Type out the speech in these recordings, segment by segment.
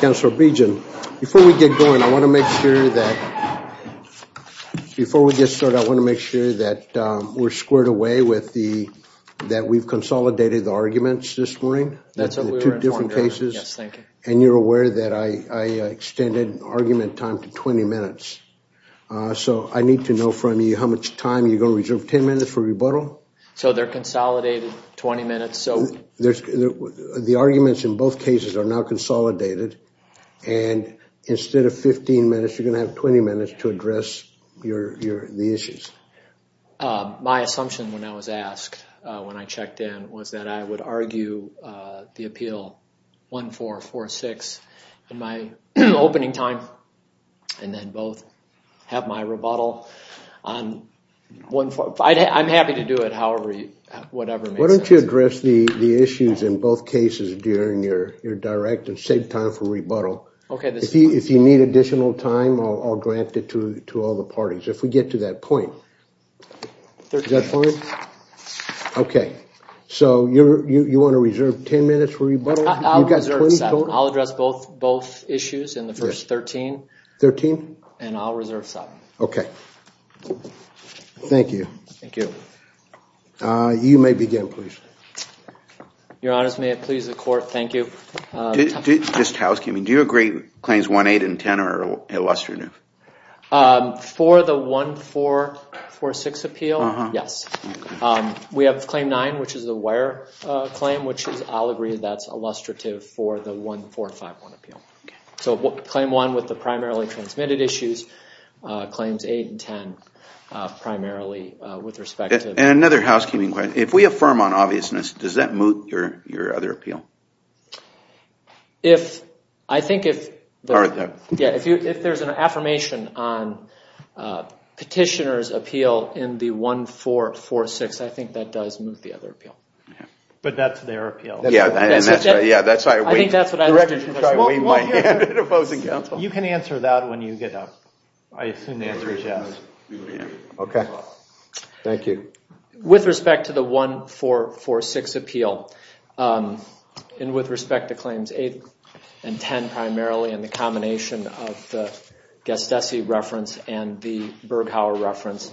Councilor Begin, before we get going I want to make sure that before we get started I want to make sure that we're squared away with the that we've consolidated the arguments this morning that's two different cases and you're so I need to know from you how much time you're going to reserve 10 minutes for rebuttal so they're consolidated 20 minutes so there's the arguments in both cases are now consolidated and instead of 15 minutes you're gonna have 20 minutes to address your the issues my assumption when I was asked when I checked in was that I would argue the appeal one four four six in my opening time and then both have my rebuttal on one four five I'm happy to do it however you whatever why don't you address the the issues in both cases during your your direct and save time for rebuttal okay if you need additional time I'll grant it to to all the parties if we get to that point okay so you're you want to 13 13 and I'll reserve some okay thank you thank you you may begin please your honors may it please the court thank you just housekeeping do you agree claims one eight and ten are illustrative for the one four four six appeal yes we have claim nine which is the where claim which is I'll agree that's illustrative for the one four five one appeal so what claim one with the primarily transmitted issues claims eight and ten primarily with respect and another housekeeping question if we affirm on obviousness does that move your your other appeal if I think if yeah if you if there's an affirmation on petitioners appeal in the one four four six I think that does move the other appeal but that's their appeal yeah that's right yeah that's I think that's what you can answer that when you get up I assume the answer is yes okay thank you with respect to the one four four six appeal and with respect to claims eight and ten primarily in the combination of the guest SE reference and the Berghauer reference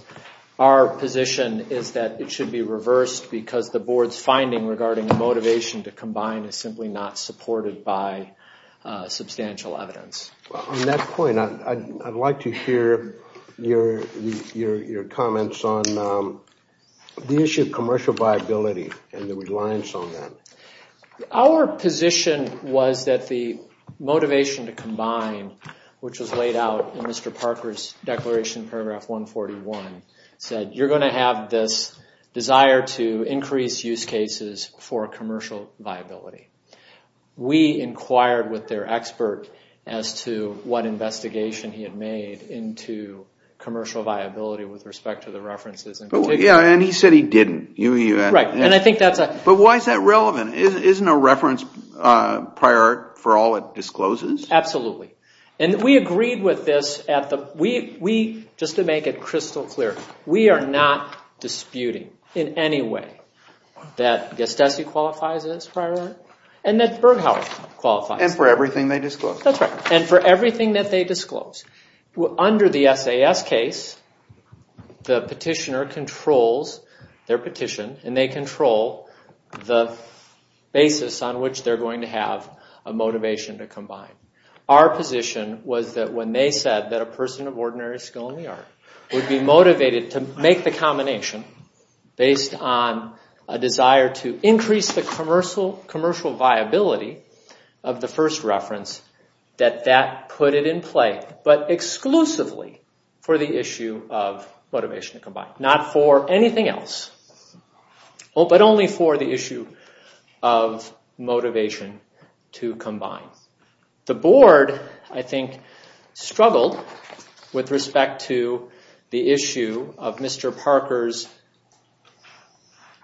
our position is that it should be reversed because the board's finding regarding the motivation to combine is simply not supported by substantial evidence on that point I'd like to hear your your comments on the issue of commercial viability and the reliance on that our position was that the motivation to combine which was laid out in mr. Parker's declaration paragraph 141 said you're going to have this desire to increase use cases for commercial viability we inquired with their expert as to what investigation he had made into commercial viability with respect to the references and yeah and he said he didn't you right and I think that's a but why is that relevant isn't a reference prior for all it discloses absolutely and we agreed with this at the we we just to make it crystal clear we are not disputing in any way that guest SE qualifies as prior and that's Berghauer qualified and for everything they disclose that's right and for everything that they disclose under the SAS case the petitioner controls their petition and they control the basis on which they're going to have a motivation to combine our position was that when they said that a person of ordinary skill in the art would be motivated to make the combination based on a desire to increase the commercial commercial viability of the first reference that that put it in play but exclusively for the issue of motivation to combine not for anything else well but only for the with respect to the issue of mr. Parker's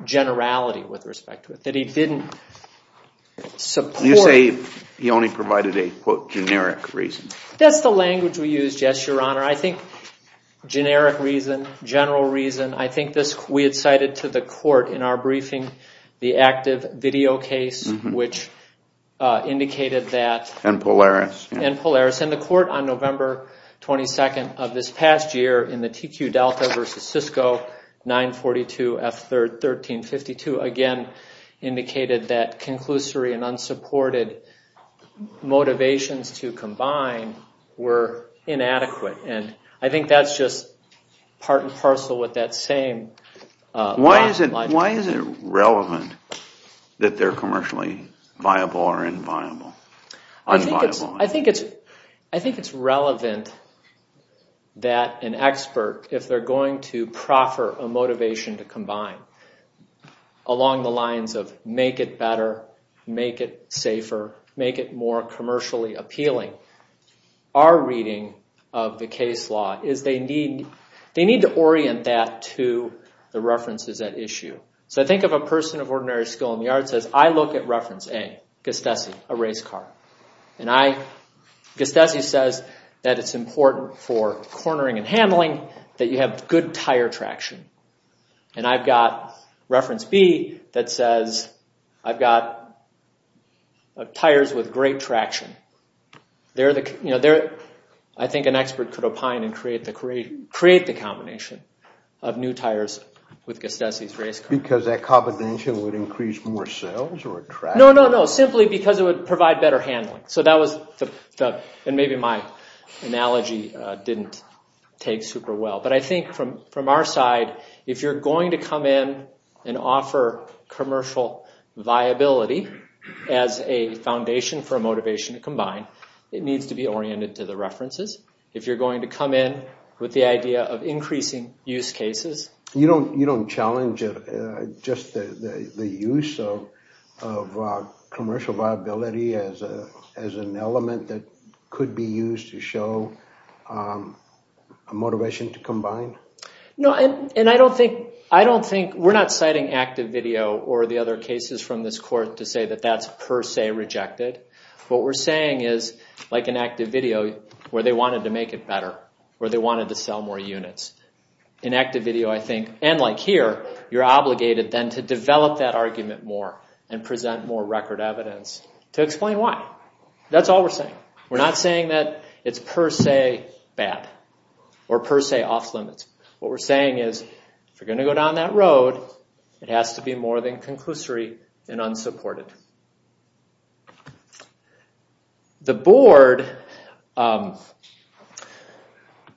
generality with respect to it that he didn't support you say he only provided a quote generic reason that's the language we use yes your honor I think generic reason general reason I think this we had cited to the court in our briefing the active video case which indicated that and Polaris and Polaris in the court on November 22nd of this past year in the TQ Delta versus Cisco 942 f3rd 1352 again indicated that conclusory and unsupported motivations to combine were inadequate and I think that's just part and parcel with that same why is it why is it relevant that they're commercially viable or inviolable I think it's I think it's relevant that an expert if they're going to proffer a motivation to combine along the lines of make it better make it safer make it more commercially appealing our reading of the case law is they need they need to orient that to the references that issue so I think of a person of ordinary skill in the art says I look at reference a gestation a race car and I just as he says that it's important for cornering and handling that you have good tire traction and I've got reference B that says I've got tires with great traction they're the you know there I think an expert could opine and create the create create the combination of new tires with gestation race because that competition would simply because it would provide better handling so that was the and maybe my analogy didn't take super well but I think from from our side if you're going to come in and offer commercial viability as a foundation for a motivation to combine it needs to be oriented to the references if you're going to come in with the idea of increasing use cases you don't you don't challenge it just the use of commercial viability as a as an element that could be used to show a motivation to combine no and and I don't think I don't think we're not citing active video or the other cases from this court to say that that's per se rejected what we're saying is like an active video where they wanted to make it better where they wanted to sell more units in here you're obligated then to develop that argument more and present more record evidence to explain why that's all we're saying we're not saying that it's per se bad or per se off limits what we're saying is we're going to go down that road it has to be more than conclusory and unsupported the board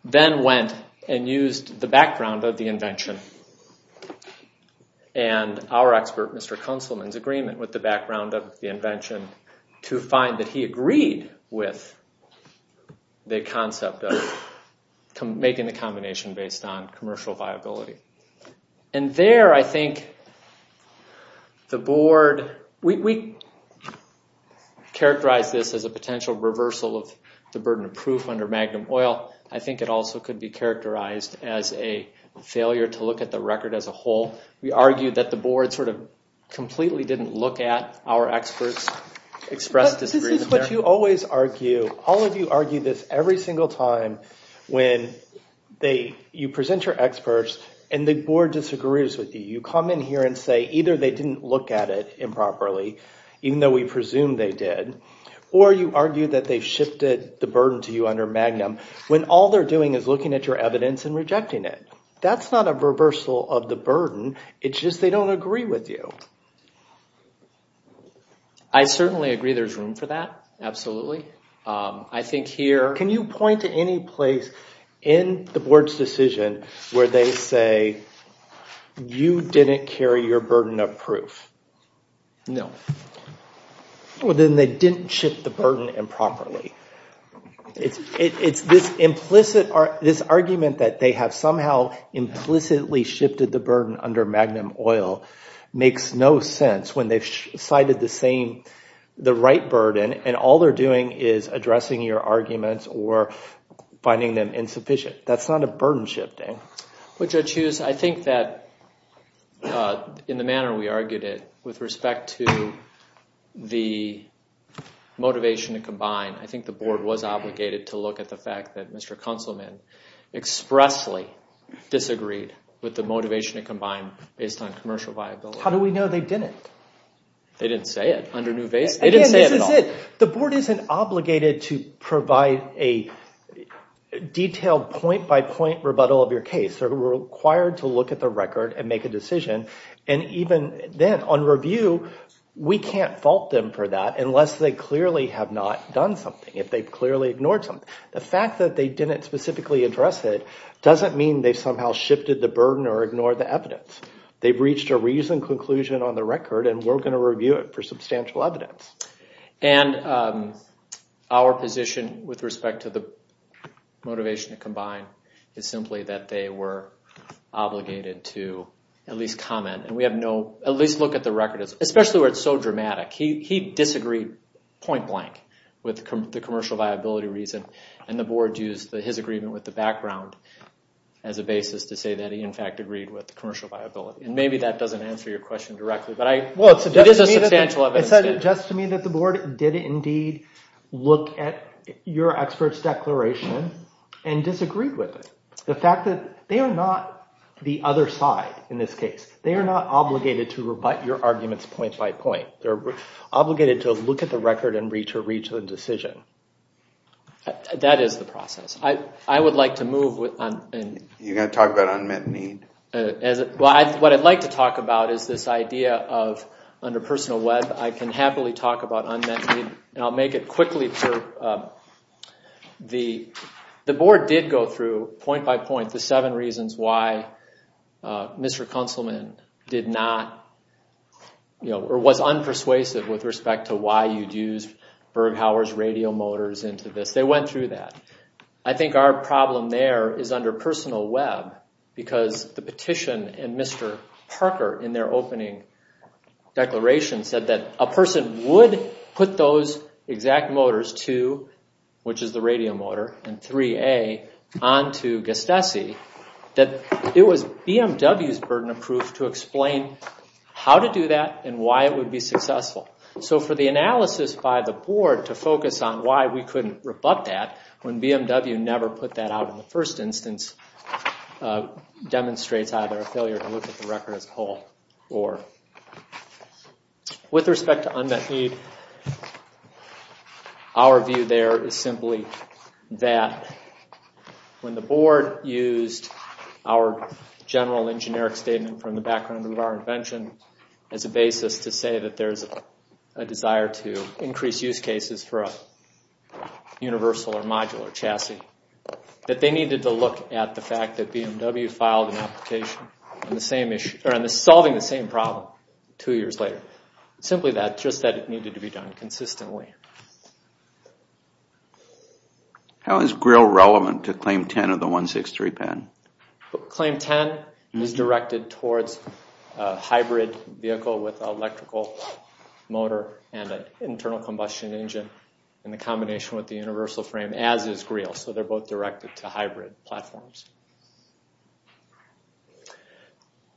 then went and used the background of the invention and our expert mr. councilman's agreement with the background of the invention to find that he agreed with the concept of making the combination based on commercial viability and there I think the board we characterize this as a potential reversal of the burden of proof under Magnum oil I think it also could be characterized as a failure to look at the record as a whole we argued that the board sort of completely didn't look at our experts expressed this is what you always argue all of you argue this every single time when they you present your experts and the board disagrees with you you come in here and say either they didn't look at it improperly even though we presume they did or you argue that they shifted the burden to you under Magnum when all they're doing is looking at your evidence and rejecting it that's not a reversal of the burden it's just they don't agree with you I certainly agree there's room for that absolutely I think here can you point to any place in the board's decision where they say you didn't carry your burden of proof no well then they didn't shift the burden improperly it's it's this implicit or this argument that they have somehow implicitly shifted the burden under Magnum oil makes no sense when they've cited the same the right burden and all they're doing is addressing your arguments or finding them insufficient that's not a burden shifting which I choose I think that in the manner we argued it with respect to the motivation to combine I think the board was obligated to look at the fact that mr. councilman expressly disagreed with the motivation to combine based on commercial viability how do we know they did it they didn't say it under new base the board isn't obligated to provide a detailed point-by-point rebuttal of your case they're required to look at the record and make a decision and even then on review we can't fault them for that unless they clearly have not done something if they've clearly ignored some the fact that they didn't specifically address it doesn't mean they somehow shifted the burden or ignore the evidence they've reached a reason conclusion on the record and our position with respect to the motivation to combine is simply that they were obligated to at least comment and we have no at least look at the record especially where it's so dramatic he disagreed point-blank with the commercial viability reason and the board used his agreement with the background as a basis to say that he in fact agreed with the commercial viability and maybe that doesn't answer your question directly but I well it's just to me that the board did indeed look at your experts declaration and disagreed with the fact that they are not the other side in this case they are not obligated to rebut your arguments point by point they're obligated to look at the record and reach a regional decision that is the process I I would like to move with and you're gonna talk about unmet need as well I what I'd about is this idea of under personal web I can happily talk about unmet need and I'll make it quickly for the the board did go through point by point the seven reasons why mr. councilman did not you know or was unpersuasive with respect to why you'd use Berghauer's radio motors into this they went through that I think our problem there is under personal web because the petition and Mr. Parker in their opening declaration said that a person would put those exact motors to which is the radio motor and 3a on to gustasee that it was BMW's burden of proof to explain how to do that and why it would be successful so for the analysis by the board to focus on why we couldn't rebut that when BMW never put that out in the first instance demonstrates either a failure to look at the record as a whole or with respect to unmet need our view there is simply that when the board used our general and generic statement from the background of our invention as a basis to say that there's a desire to increase use cases for a universal or modular chassis that they needed to look at the filed an application on the same issue or on the solving the same problem two years later simply that just that it needed to be done consistently how is grill relevant to claim 10 of the 163 pen claim 10 is directed towards hybrid vehicle with electrical motor and an internal combustion engine in the combination with the universal frame as is grill so they're both directed to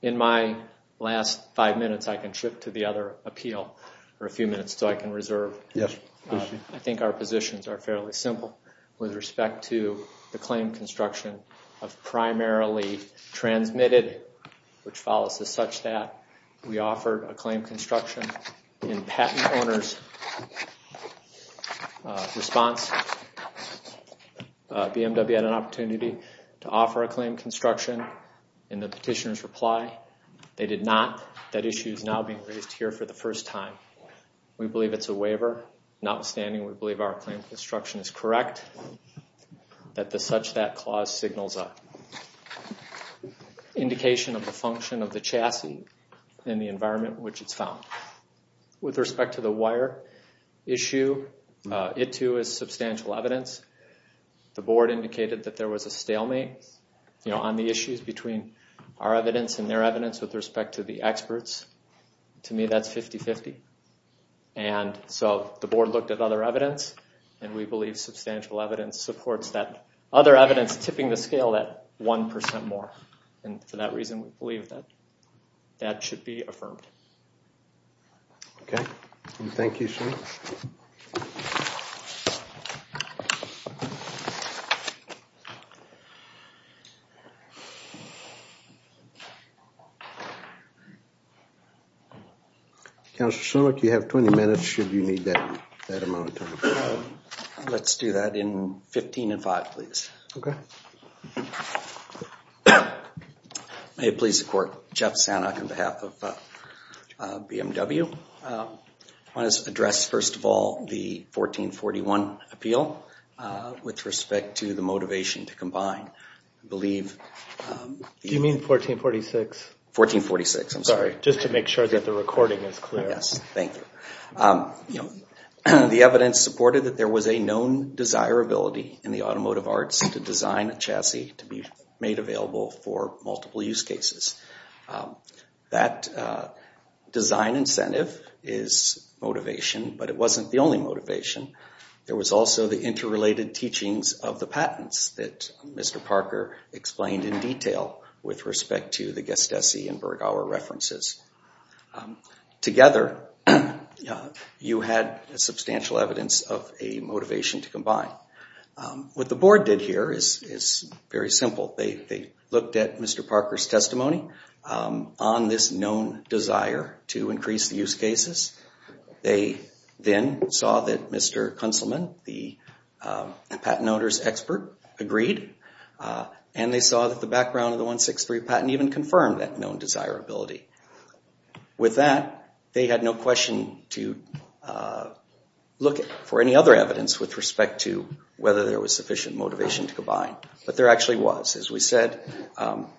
in my last five minutes I can shift to the other appeal for a few minutes so I can reserve yes I think our positions are fairly simple with respect to the claim construction of primarily transmitted which follows as such that we offered a claim construction in patent owners response BMW had an construction in the petitioners reply they did not that issues now being raised here for the first time we believe it's a waiver notwithstanding we believe our claim construction is correct that the such that clause signals up indication of the function of the chassis in the environment which it's found with respect to the wire issue it too is substantial evidence the on the issues between our evidence and their evidence with respect to the experts to me that's 50-50 and so the board looked at other evidence and we believe substantial evidence supports that other evidence tipping the scale that 1% more and for that reason we believe that that should be affirmed okay thank you so much you have 20 minutes should you need that let's do that in address first of all the 1441 appeal with respect to the motivation to combine believe you mean 1446 1446 I'm sorry just to make sure that the recording is clear yes thank you you know the evidence supported that there was a known desirability in the automotive arts to design a chassis to made available for multiple use cases that design incentive is motivation but it wasn't the only motivation there was also the interrelated teachings of the patents that mr. Parker explained in detail with respect to the guest SE and Berg our references together you had a substantial evidence of a motivation to they looked at mr. Parker's testimony on this known desire to increase the use cases they then saw that mr. Kunselman the patent owners expert agreed and they saw that the background of the 163 patent even confirmed that known desirability with that they had no question to look for any other evidence with respect to whether there was sufficient motivation to combine but there actually was as we said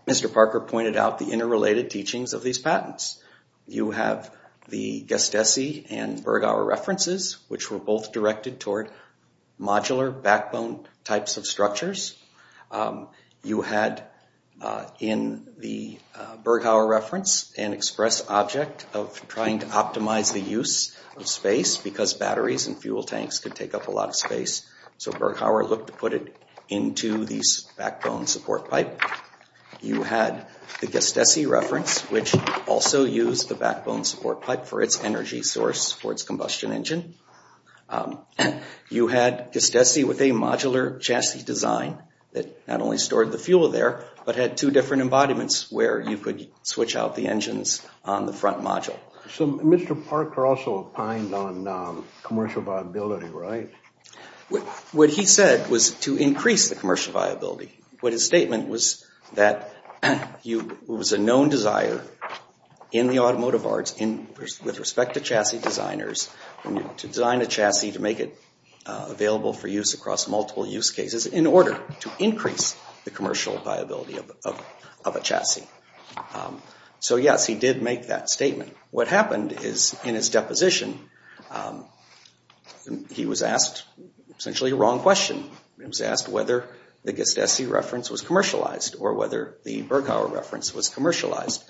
mr. Parker pointed out the interrelated teachings of these patents you have the guest SE and Berg our references which were both directed toward modular backbone types of structures you had in the Berg our reference and express object of trying to optimize the use of space because batteries and fuel tanks could take up a lot of space so Berg our look to put it into these backbone support pipe you had the guest SE reference which also used the backbone support pipe for its energy source for its combustion engine you had just SE with a modular chassis design that not only stored the fuel there but had two different embodiments where you could switch out the engines on the front module so mr. Parker also opined on commercial viability right with what he said was to increase the commercial viability what his statement was that you was a known desire in the automotive arts in with respect to chassis designers when you design a chassis to make it available for use across multiple use cases in order to increase the commercial viability of a chassis so yes he did make that he was asked essentially a wrong question I was asked whether the guest SE reference was commercialized or whether the Berg our reference was commercialized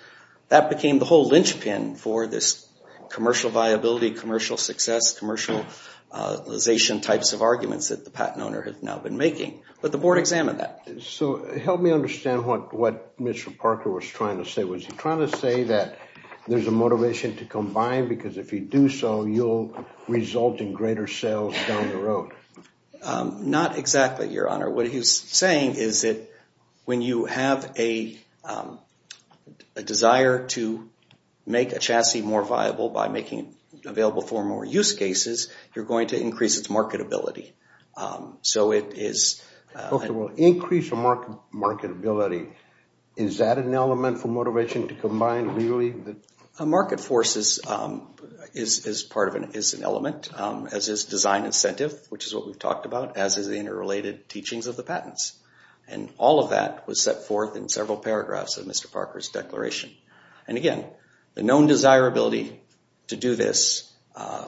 that became the whole linchpin for this commercial viability commercial success commercialization types of arguments that the patent owner has now been making but the board examined that so help me understand what what mr. Parker was trying to say was he trying to say that there's a motivation to combine because if you do so you'll result in greater sales down the road not exactly your honor what he's saying is that when you have a desire to make a chassis more viable by making available for more use cases you're going to increase its marketability so it is increase a market marketability is that an element for motivation to combine really the market forces is part of an is an element as his design incentive which is what we've talked about as is the interrelated teachings of the patents and all of that was set forth in several paragraphs of mr. Parker's declaration and again the known desirability to do this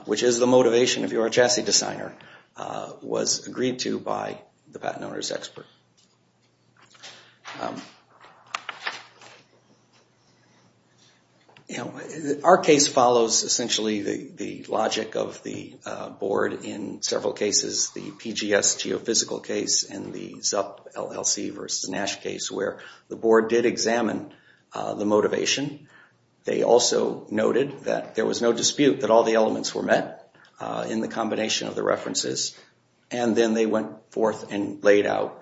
which is the motivation of your chassis designer was agreed to by the patent owner's expert you know our case follows essentially the the logic of the board in several cases the PGS geophysical case and the ZUP LLC versus Nash case where the board did examine the motivation they also noted that there was no dispute that all the elements were met in the combination of the references and then they went forth and laid out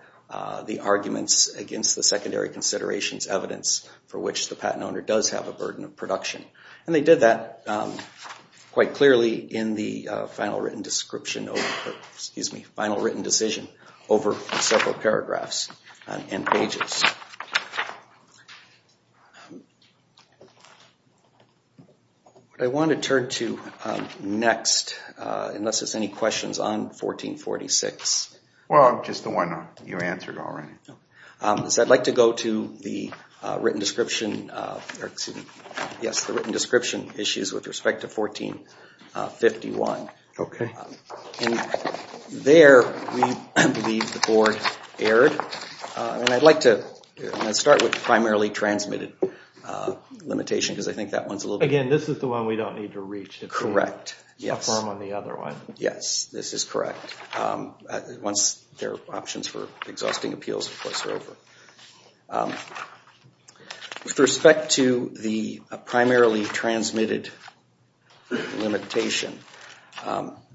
the arguments against the secondary considerations evidence for which the patent owner does have a burden of production and they did that quite clearly in the final written description excuse me final written decision over several paragraphs and pages I want to to next unless it's any questions on 1446 well just the one you answered already so I'd like to go to the written description yes the written description issues with respect to 1451 okay there the board aired and I'd like to start with primarily transmitted limitation because I think that one's a correct yes firm on the other one yes this is correct once their options for exhausting appeals of course are over with respect to the primarily transmitted limitation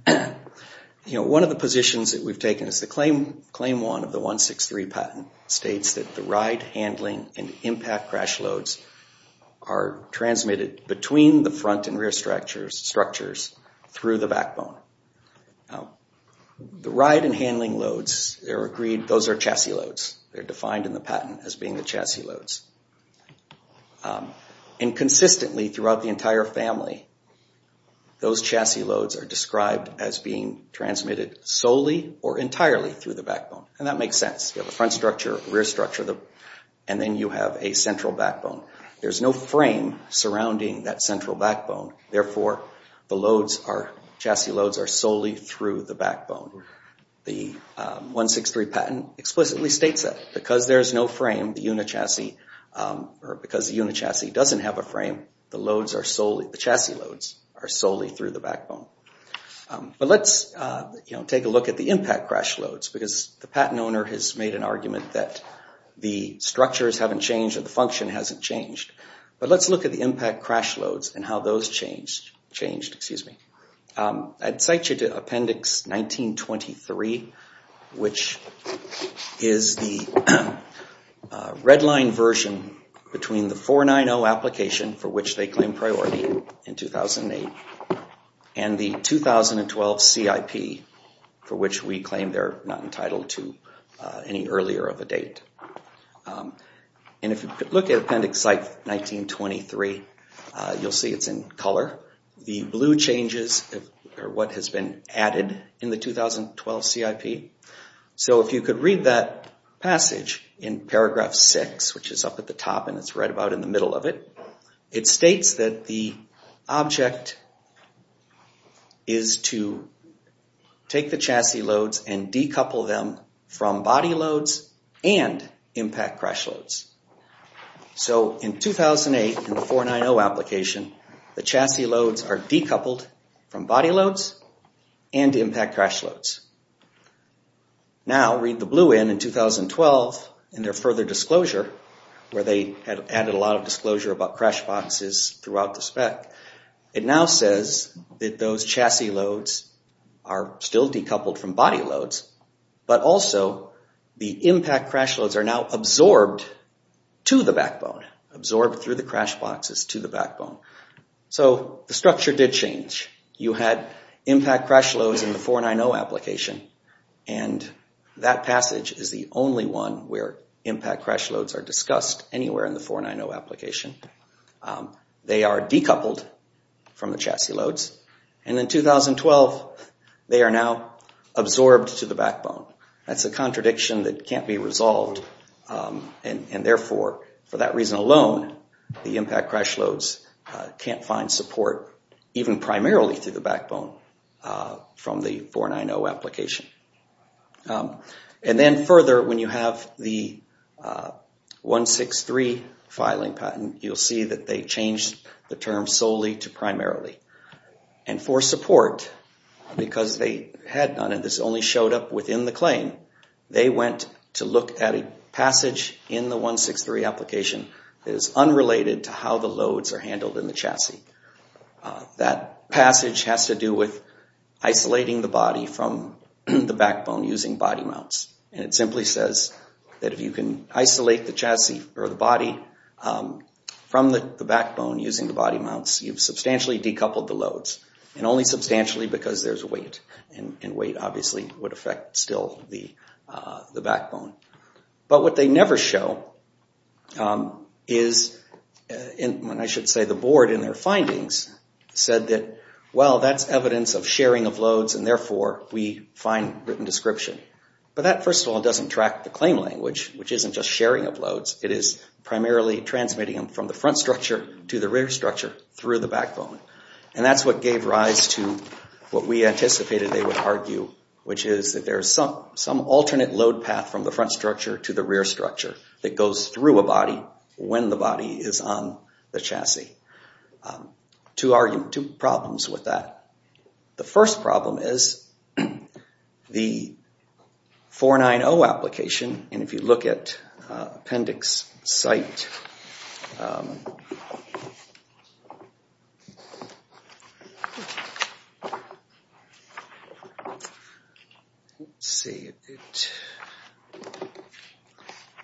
you know one of the positions that we've taken is the claim claim one of the 163 patent states that the ride handling and impact crash loads are transmitted between the front and rear structures structures through the backbone the ride and handling loads they're agreed those are chassis loads they're defined in the patent as being the chassis loads and consistently throughout the entire family those chassis loads are described as being transmitted solely or entirely through the backbone and that makes front structure rear structure the and then you have a central backbone there's no frame surrounding that central backbone therefore the loads are chassis loads are solely through the backbone the 163 patent explicitly states that because there's no frame the unit chassis or because the unit chassis doesn't have a frame the loads are solely the chassis loads are solely through the backbone but let's you know take a look at the impact crash loads because the patent owner has made an argument that the structures haven't changed the function hasn't changed but let's look at the impact crash loads and how those changed changed excuse me I'd cite you to appendix 1923 which is the redline version between the 490 application for which they claim priority in 2008 and the 2012 CIP for which we claim they're not entitled to any earlier of a date and if you look at appendix like 1923 you'll see it's in color the blue changes or what has been added in the 2012 CIP so if you could read that passage in paragraph 6 which is up at the top and it's right about in the middle of it it states that the object is to take the chassis loads and decouple them from body loads and impact crash loads so in 2008 in the 490 application the chassis loads are decoupled from body loads and impact crash loads now read the blue in in 2012 and their further disclosure where they had added a lot of disclosure about crash boxes throughout the spec it now says that those chassis loads are still decoupled from body loads but also the impact crash loads are now absorbed to the backbone absorbed through the crash boxes to the backbone so the structure did change you had impact crash loads in the 490 application and that passage is the only one where impact crash loads are discussed anywhere in the 490 application they are decoupled from the chassis loads and in 2012 they are now absorbed to the backbone that's a contradiction that can't be resolved and therefore for that reason alone the impact crash loads can't find support even primarily through the backbone from the 490 application and then further when you have the 163 filing patent you'll see that they changed the term solely to primarily and for support because they had none of this only showed up within the claim they went to look at a passage in the 163 application that is unrelated to how the loads are body from the backbone using body mounts and it simply says that if you can isolate the chassis or the body from the backbone using the body mounts you've substantially decoupled the loads and only substantially because there's a weight and weight obviously would affect still the the backbone but what they never show is in when I should say the board in their findings said that well that's evidence of sharing of loads and therefore we find written description but that first of all doesn't track the claim language which isn't just sharing of loads it is primarily transmitting them from the front structure to the rear structure through the backbone and that's what gave rise to what we anticipated they would argue which is that there's some some alternate load path from the front structure to the rear structure that goes through a body when the body is on the chassis to argue two problems with that the first problem is the 490 application and if you look at appendix site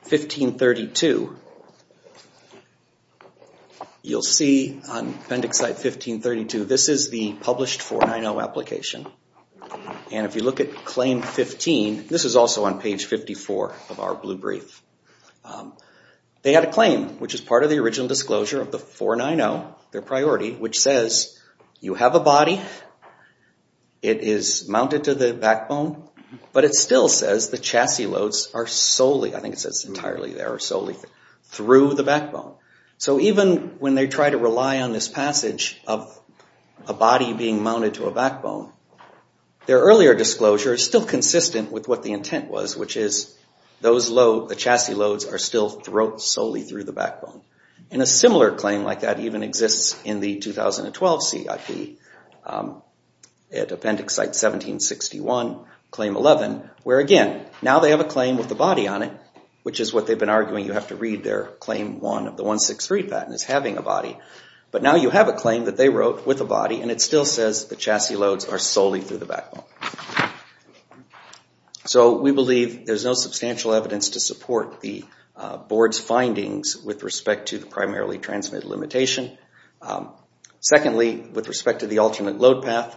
1532 you'll see on appendix site 1532 this is the published 490 application and if you look at claim 15 this is also on page 54 of our blue brief they had a disclosure of the 490 their priority which says you have a body it is mounted to the backbone but it still says the chassis loads are solely I think it says entirely there are solely through the backbone so even when they try to rely on this passage of a body being mounted to a backbone their earlier disclosure is still consistent with what the intent was which is those the chassis loads are still throat solely through the backbone and a similar claim like that even exists in the 2012 CIP at appendix site 1761 claim 11 where again now they have a claim with the body on it which is what they've been arguing you have to read their claim one of the 163 patent is having a body but now you have a claim that they wrote with a body and it still says the chassis loads are solely through the backbone so we believe there's no substantial evidence to support the board's findings with respect to the primarily transmitted limitation secondly with respect to the alternate load path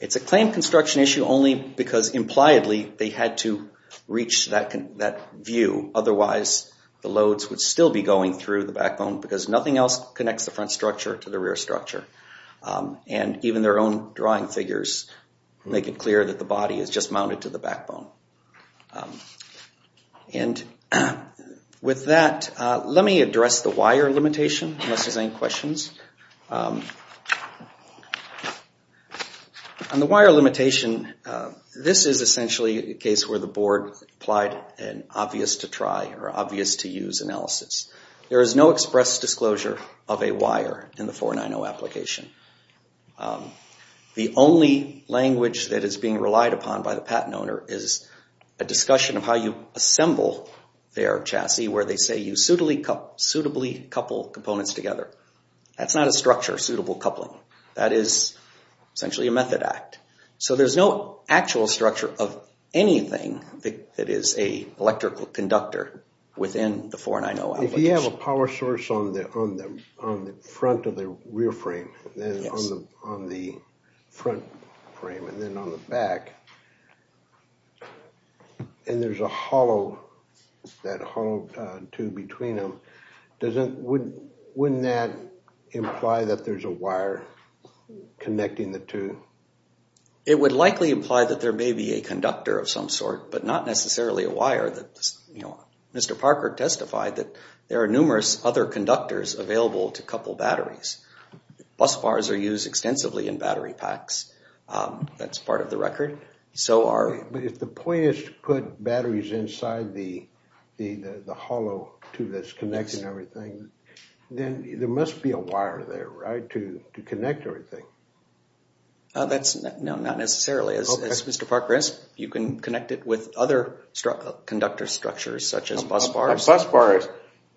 it's a claim construction issue only because impliedly they had to reach that view otherwise the loads would still be going through the backbone because nothing else connects the front structure to the rear structure and even their own drawing figures make it clear that the body is just mounted to the backbone and with that let me address the wire limitation unless there's any questions on the wire limitation this is essentially a case where the board applied an obvious to try or obvious to use analysis there is no express disclosure of a wire in the 490 application the only language that is being relied upon by the patent owner is a discussion of how you assemble their chassis where they say you suitably couple components together that's not a structure suitable coupling that is essentially a method act so there's no actual structure of anything that is a electrical conductor within the 490. If you have a power source on the front of the rear frame and on the front frame and then on the back and there's a hollow, that hollow tube between them, wouldn't that imply that there's a wire connecting the two? It would likely imply that there may be a conductor of some sort but not necessarily a wire that you know Mr. Parker, there are numerous other conductors available to couple batteries. Bus bars are used extensively in battery packs that's part of the record so are... But if the point is to put batteries inside the the the hollow tube that's connecting everything then there must be a wire there right to to connect everything. That's not necessarily as Mr. Parker says, you can connect it with other conductor structures such as bus bars. A bus bar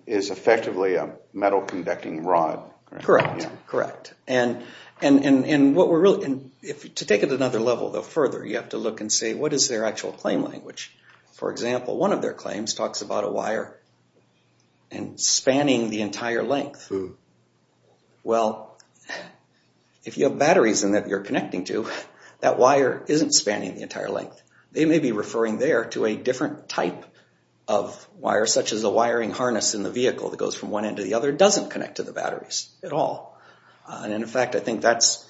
is effectively a metal conducting rod. Correct, correct. And what we're really, to take it another level though further, you have to look and say what is their actual claim language. For example, one of their claims talks about a wire and spanning the entire length. Well if you have batteries in that you're connecting to, that wire isn't spanning the entire length. They may be referring there to a different type of wire such as a wiring harness in the vehicle that goes from one end to the other doesn't connect to the batteries at all. And in fact I think that's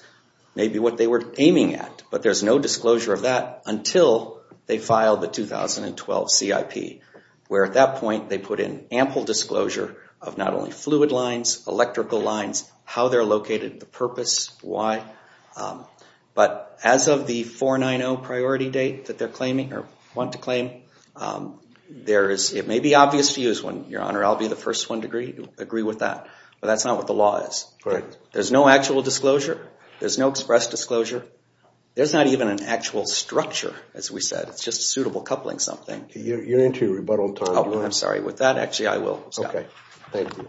maybe what they were aiming at but there's no disclosure of that until they filed the 2012 CIP where at that point they put in ample disclosure of not only fluid lines, electrical lines, how they're located, the purpose, why. But as of the 490 priority date that they're claiming or want to claim, there is, it may be obvious to use one, your honor, I'll be the first one to agree with that, but that's not what the law is. There's no actual disclosure, there's no express disclosure, there's not even an actual structure as we said, it's just suitable coupling something. You're into rebuttal time. I'm sorry, with that actually I will stop. Okay, thank you.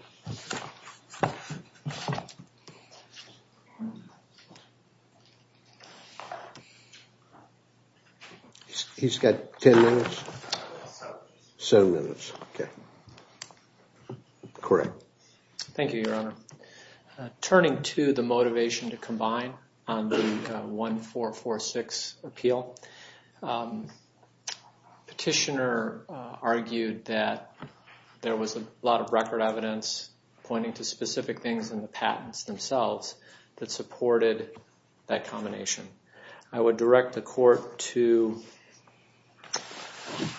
He's got ten minutes? Seven minutes. Okay, correct. Thank you, your honor. Turning to the motivation to combine on the 1446 appeal, petitioner argued that there was a lot of record evidence pointing to specific things in the patents themselves that supported that combination. I would direct the court to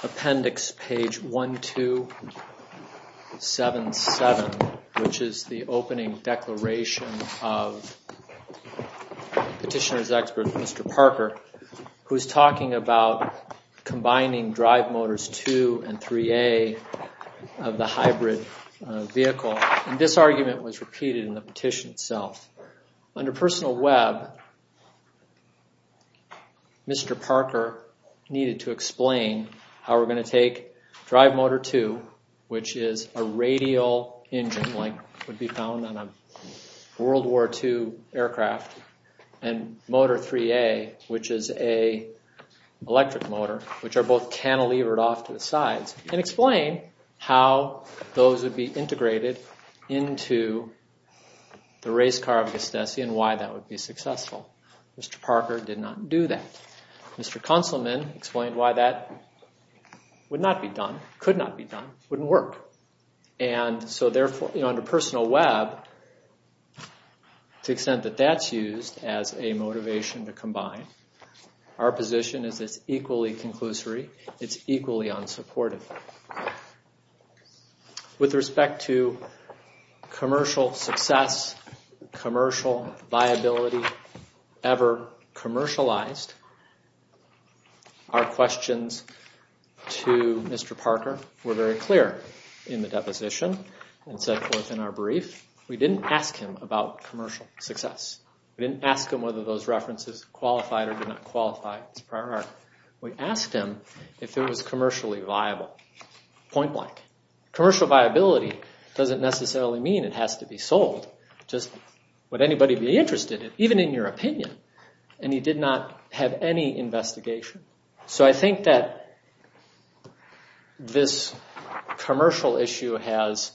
appendix page 1277, which is the opening declaration of petitioner's expert, Mr. Parker, who's talking about combining drive motors 2 and 3A of the hybrid vehicle, and this argument was repeated in the petition itself. Under personal web, Mr. Parker needed to explain how we're going to take drive motor 2, which is a radial engine like would be found on a World War 2 aircraft, and motor 3A, which is a electric motor, which are both cantilevered off to the sides, and explain how those would be integrated into the race car of Gustessian, why that would be successful. Mr. Parker did not do that. Mr. Consolman explained why that would not be done, could not be done, wouldn't work, and so therefore, you know, under personal web, to the extent that that's used as a motivation to combine, our With respect to commercial success, commercial viability ever commercialized, our questions to Mr. Parker were very clear in the deposition and so forth in our brief. We didn't ask him about commercial success. We didn't ask him whether those references qualified or did not qualify as prior art. We asked him if it was commercially viable. Point blank. Commercial viability doesn't necessarily mean it has to be sold. Just would anybody be interested, even in your opinion, and he did not have any investigation. So I think that this commercial issue has,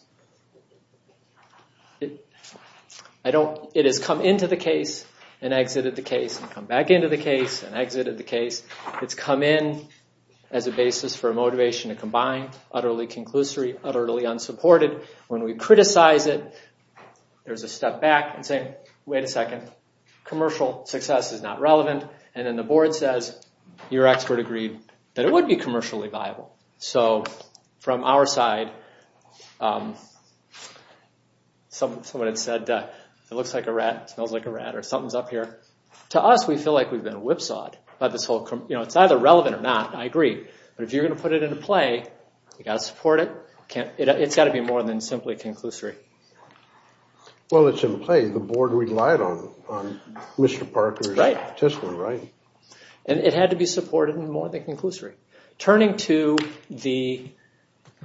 I don't, it has come into the case and exited the case and back into the case and exited the case. It's come in as a basis for a motivation to combine, utterly conclusory, utterly unsupported. When we criticize it, there's a step back and say, wait a second, commercial success is not relevant, and then the board says, your expert agreed that it would be commercially viable. So from our side, someone had said, it looks like a rat, smells like a rat, or we feel like we've been whipsawed by this whole, you know, it's either relevant or not, I agree, but if you're gonna put it into play, you got to support it. It's got to be more than simply conclusory. Well, it's in play. The board relied on Mr. Parker's petition, right? And it had to be supported in more than conclusory. Turning to the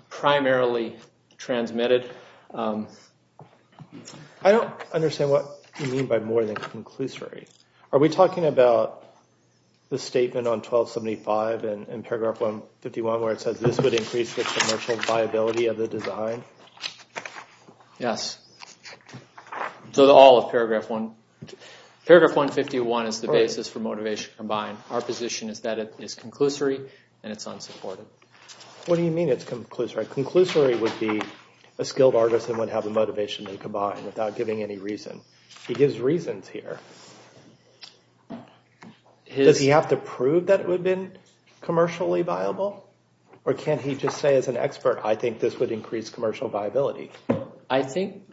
primarily transmitted... I don't understand what you talking about the statement on 1275 and in paragraph 151 where it says this would increase the commercial viability of the design? Yes, so all of paragraph 1. Paragraph 151 is the basis for motivation to combine. Our position is that it is conclusory and it's unsupported. What do you mean it's conclusory? Conclusory would be a skilled artist that would have the Does he have to prove that it would have been commercially viable? Or can't he just say as an expert, I think this would increase commercial viability? I think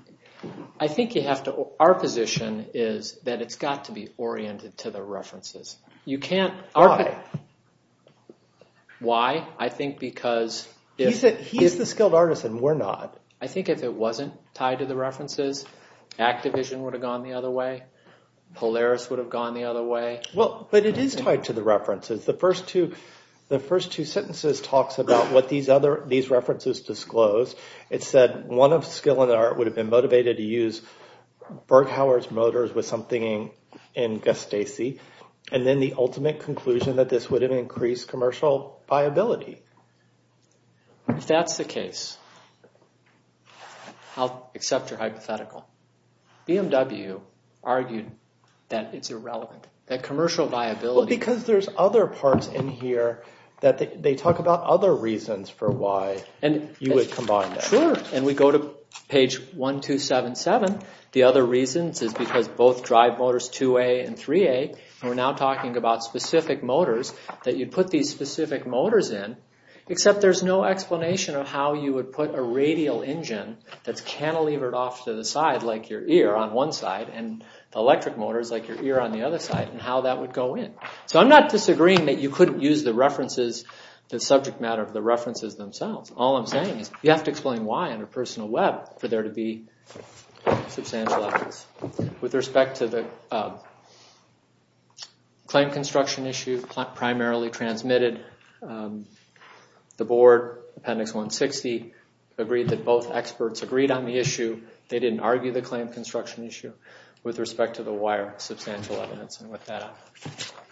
you have to... our position is that it's got to be oriented to the references. You can't... Why? Why? I think because... He's the skilled artist and we're not. I think if it wasn't tied to the references, Activision would have gone the other way. Polaris would have gone the other way. Well, but it is tied to the references. The first two sentences talks about what these references disclose. It said one of skill and art would have been motivated to use Burghauer's motors with something in Gustafsson, and then the ultimate conclusion that this would have increased commercial viability. If that's the case, I'll accept your hypothetical. BMW argued that it's irrelevant, that commercial viability... Because there's other parts in here that they talk about other reasons for why you would combine them. Sure, and we go to page 1-277. The other reasons is because both drive motors 2A and 3A, we're now talking about specific motors that you put these specific motors in, except there's no explanation of how you would put a radial engine that's cantilevered off to the side like your ear on one side, and the electric motors like your ear on the other side, and how that would go in. So I'm not disagreeing that you couldn't use the references, the subject matter of the references themselves. All I'm saying is you have to explain why under personal web for there to be substantial evidence. With respect to the claim construction issue, primarily transmitted the board, appendix 160, agreed that both experts agreed on the issue. They didn't argue the claim construction issue. With respect to the wire, substantial evidence, and with that,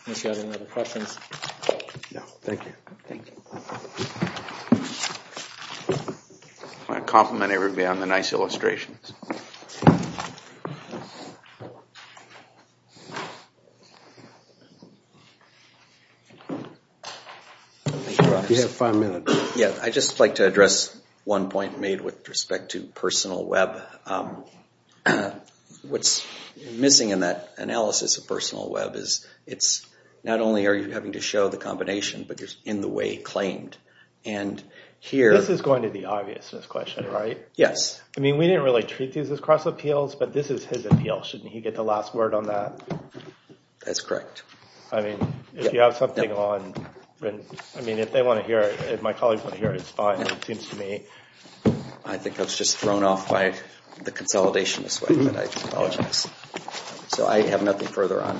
unless you have any other questions. Thank you. I want to compliment everybody on the nice illustrations. I'd just like to address one point made with respect to personal web. It's not only are you having to show the combination, but you're in the way claimed. This is going to be obvious, this question, right? Yes. I mean we didn't really treat these as cross appeals, but this is his appeal. Shouldn't he get the last word on that? That's correct. I mean if they want to hear it, if my colleagues want to hear it, it's fine. I think I was just thrown off by the consolidation this way, but I apologize. So I have nothing further on.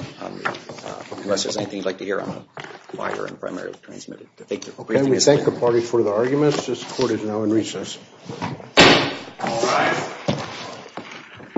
Unless there's anything you'd like to hear on the wire and primarily transmitted. Can we thank the party for the arguments? This court is now in recess.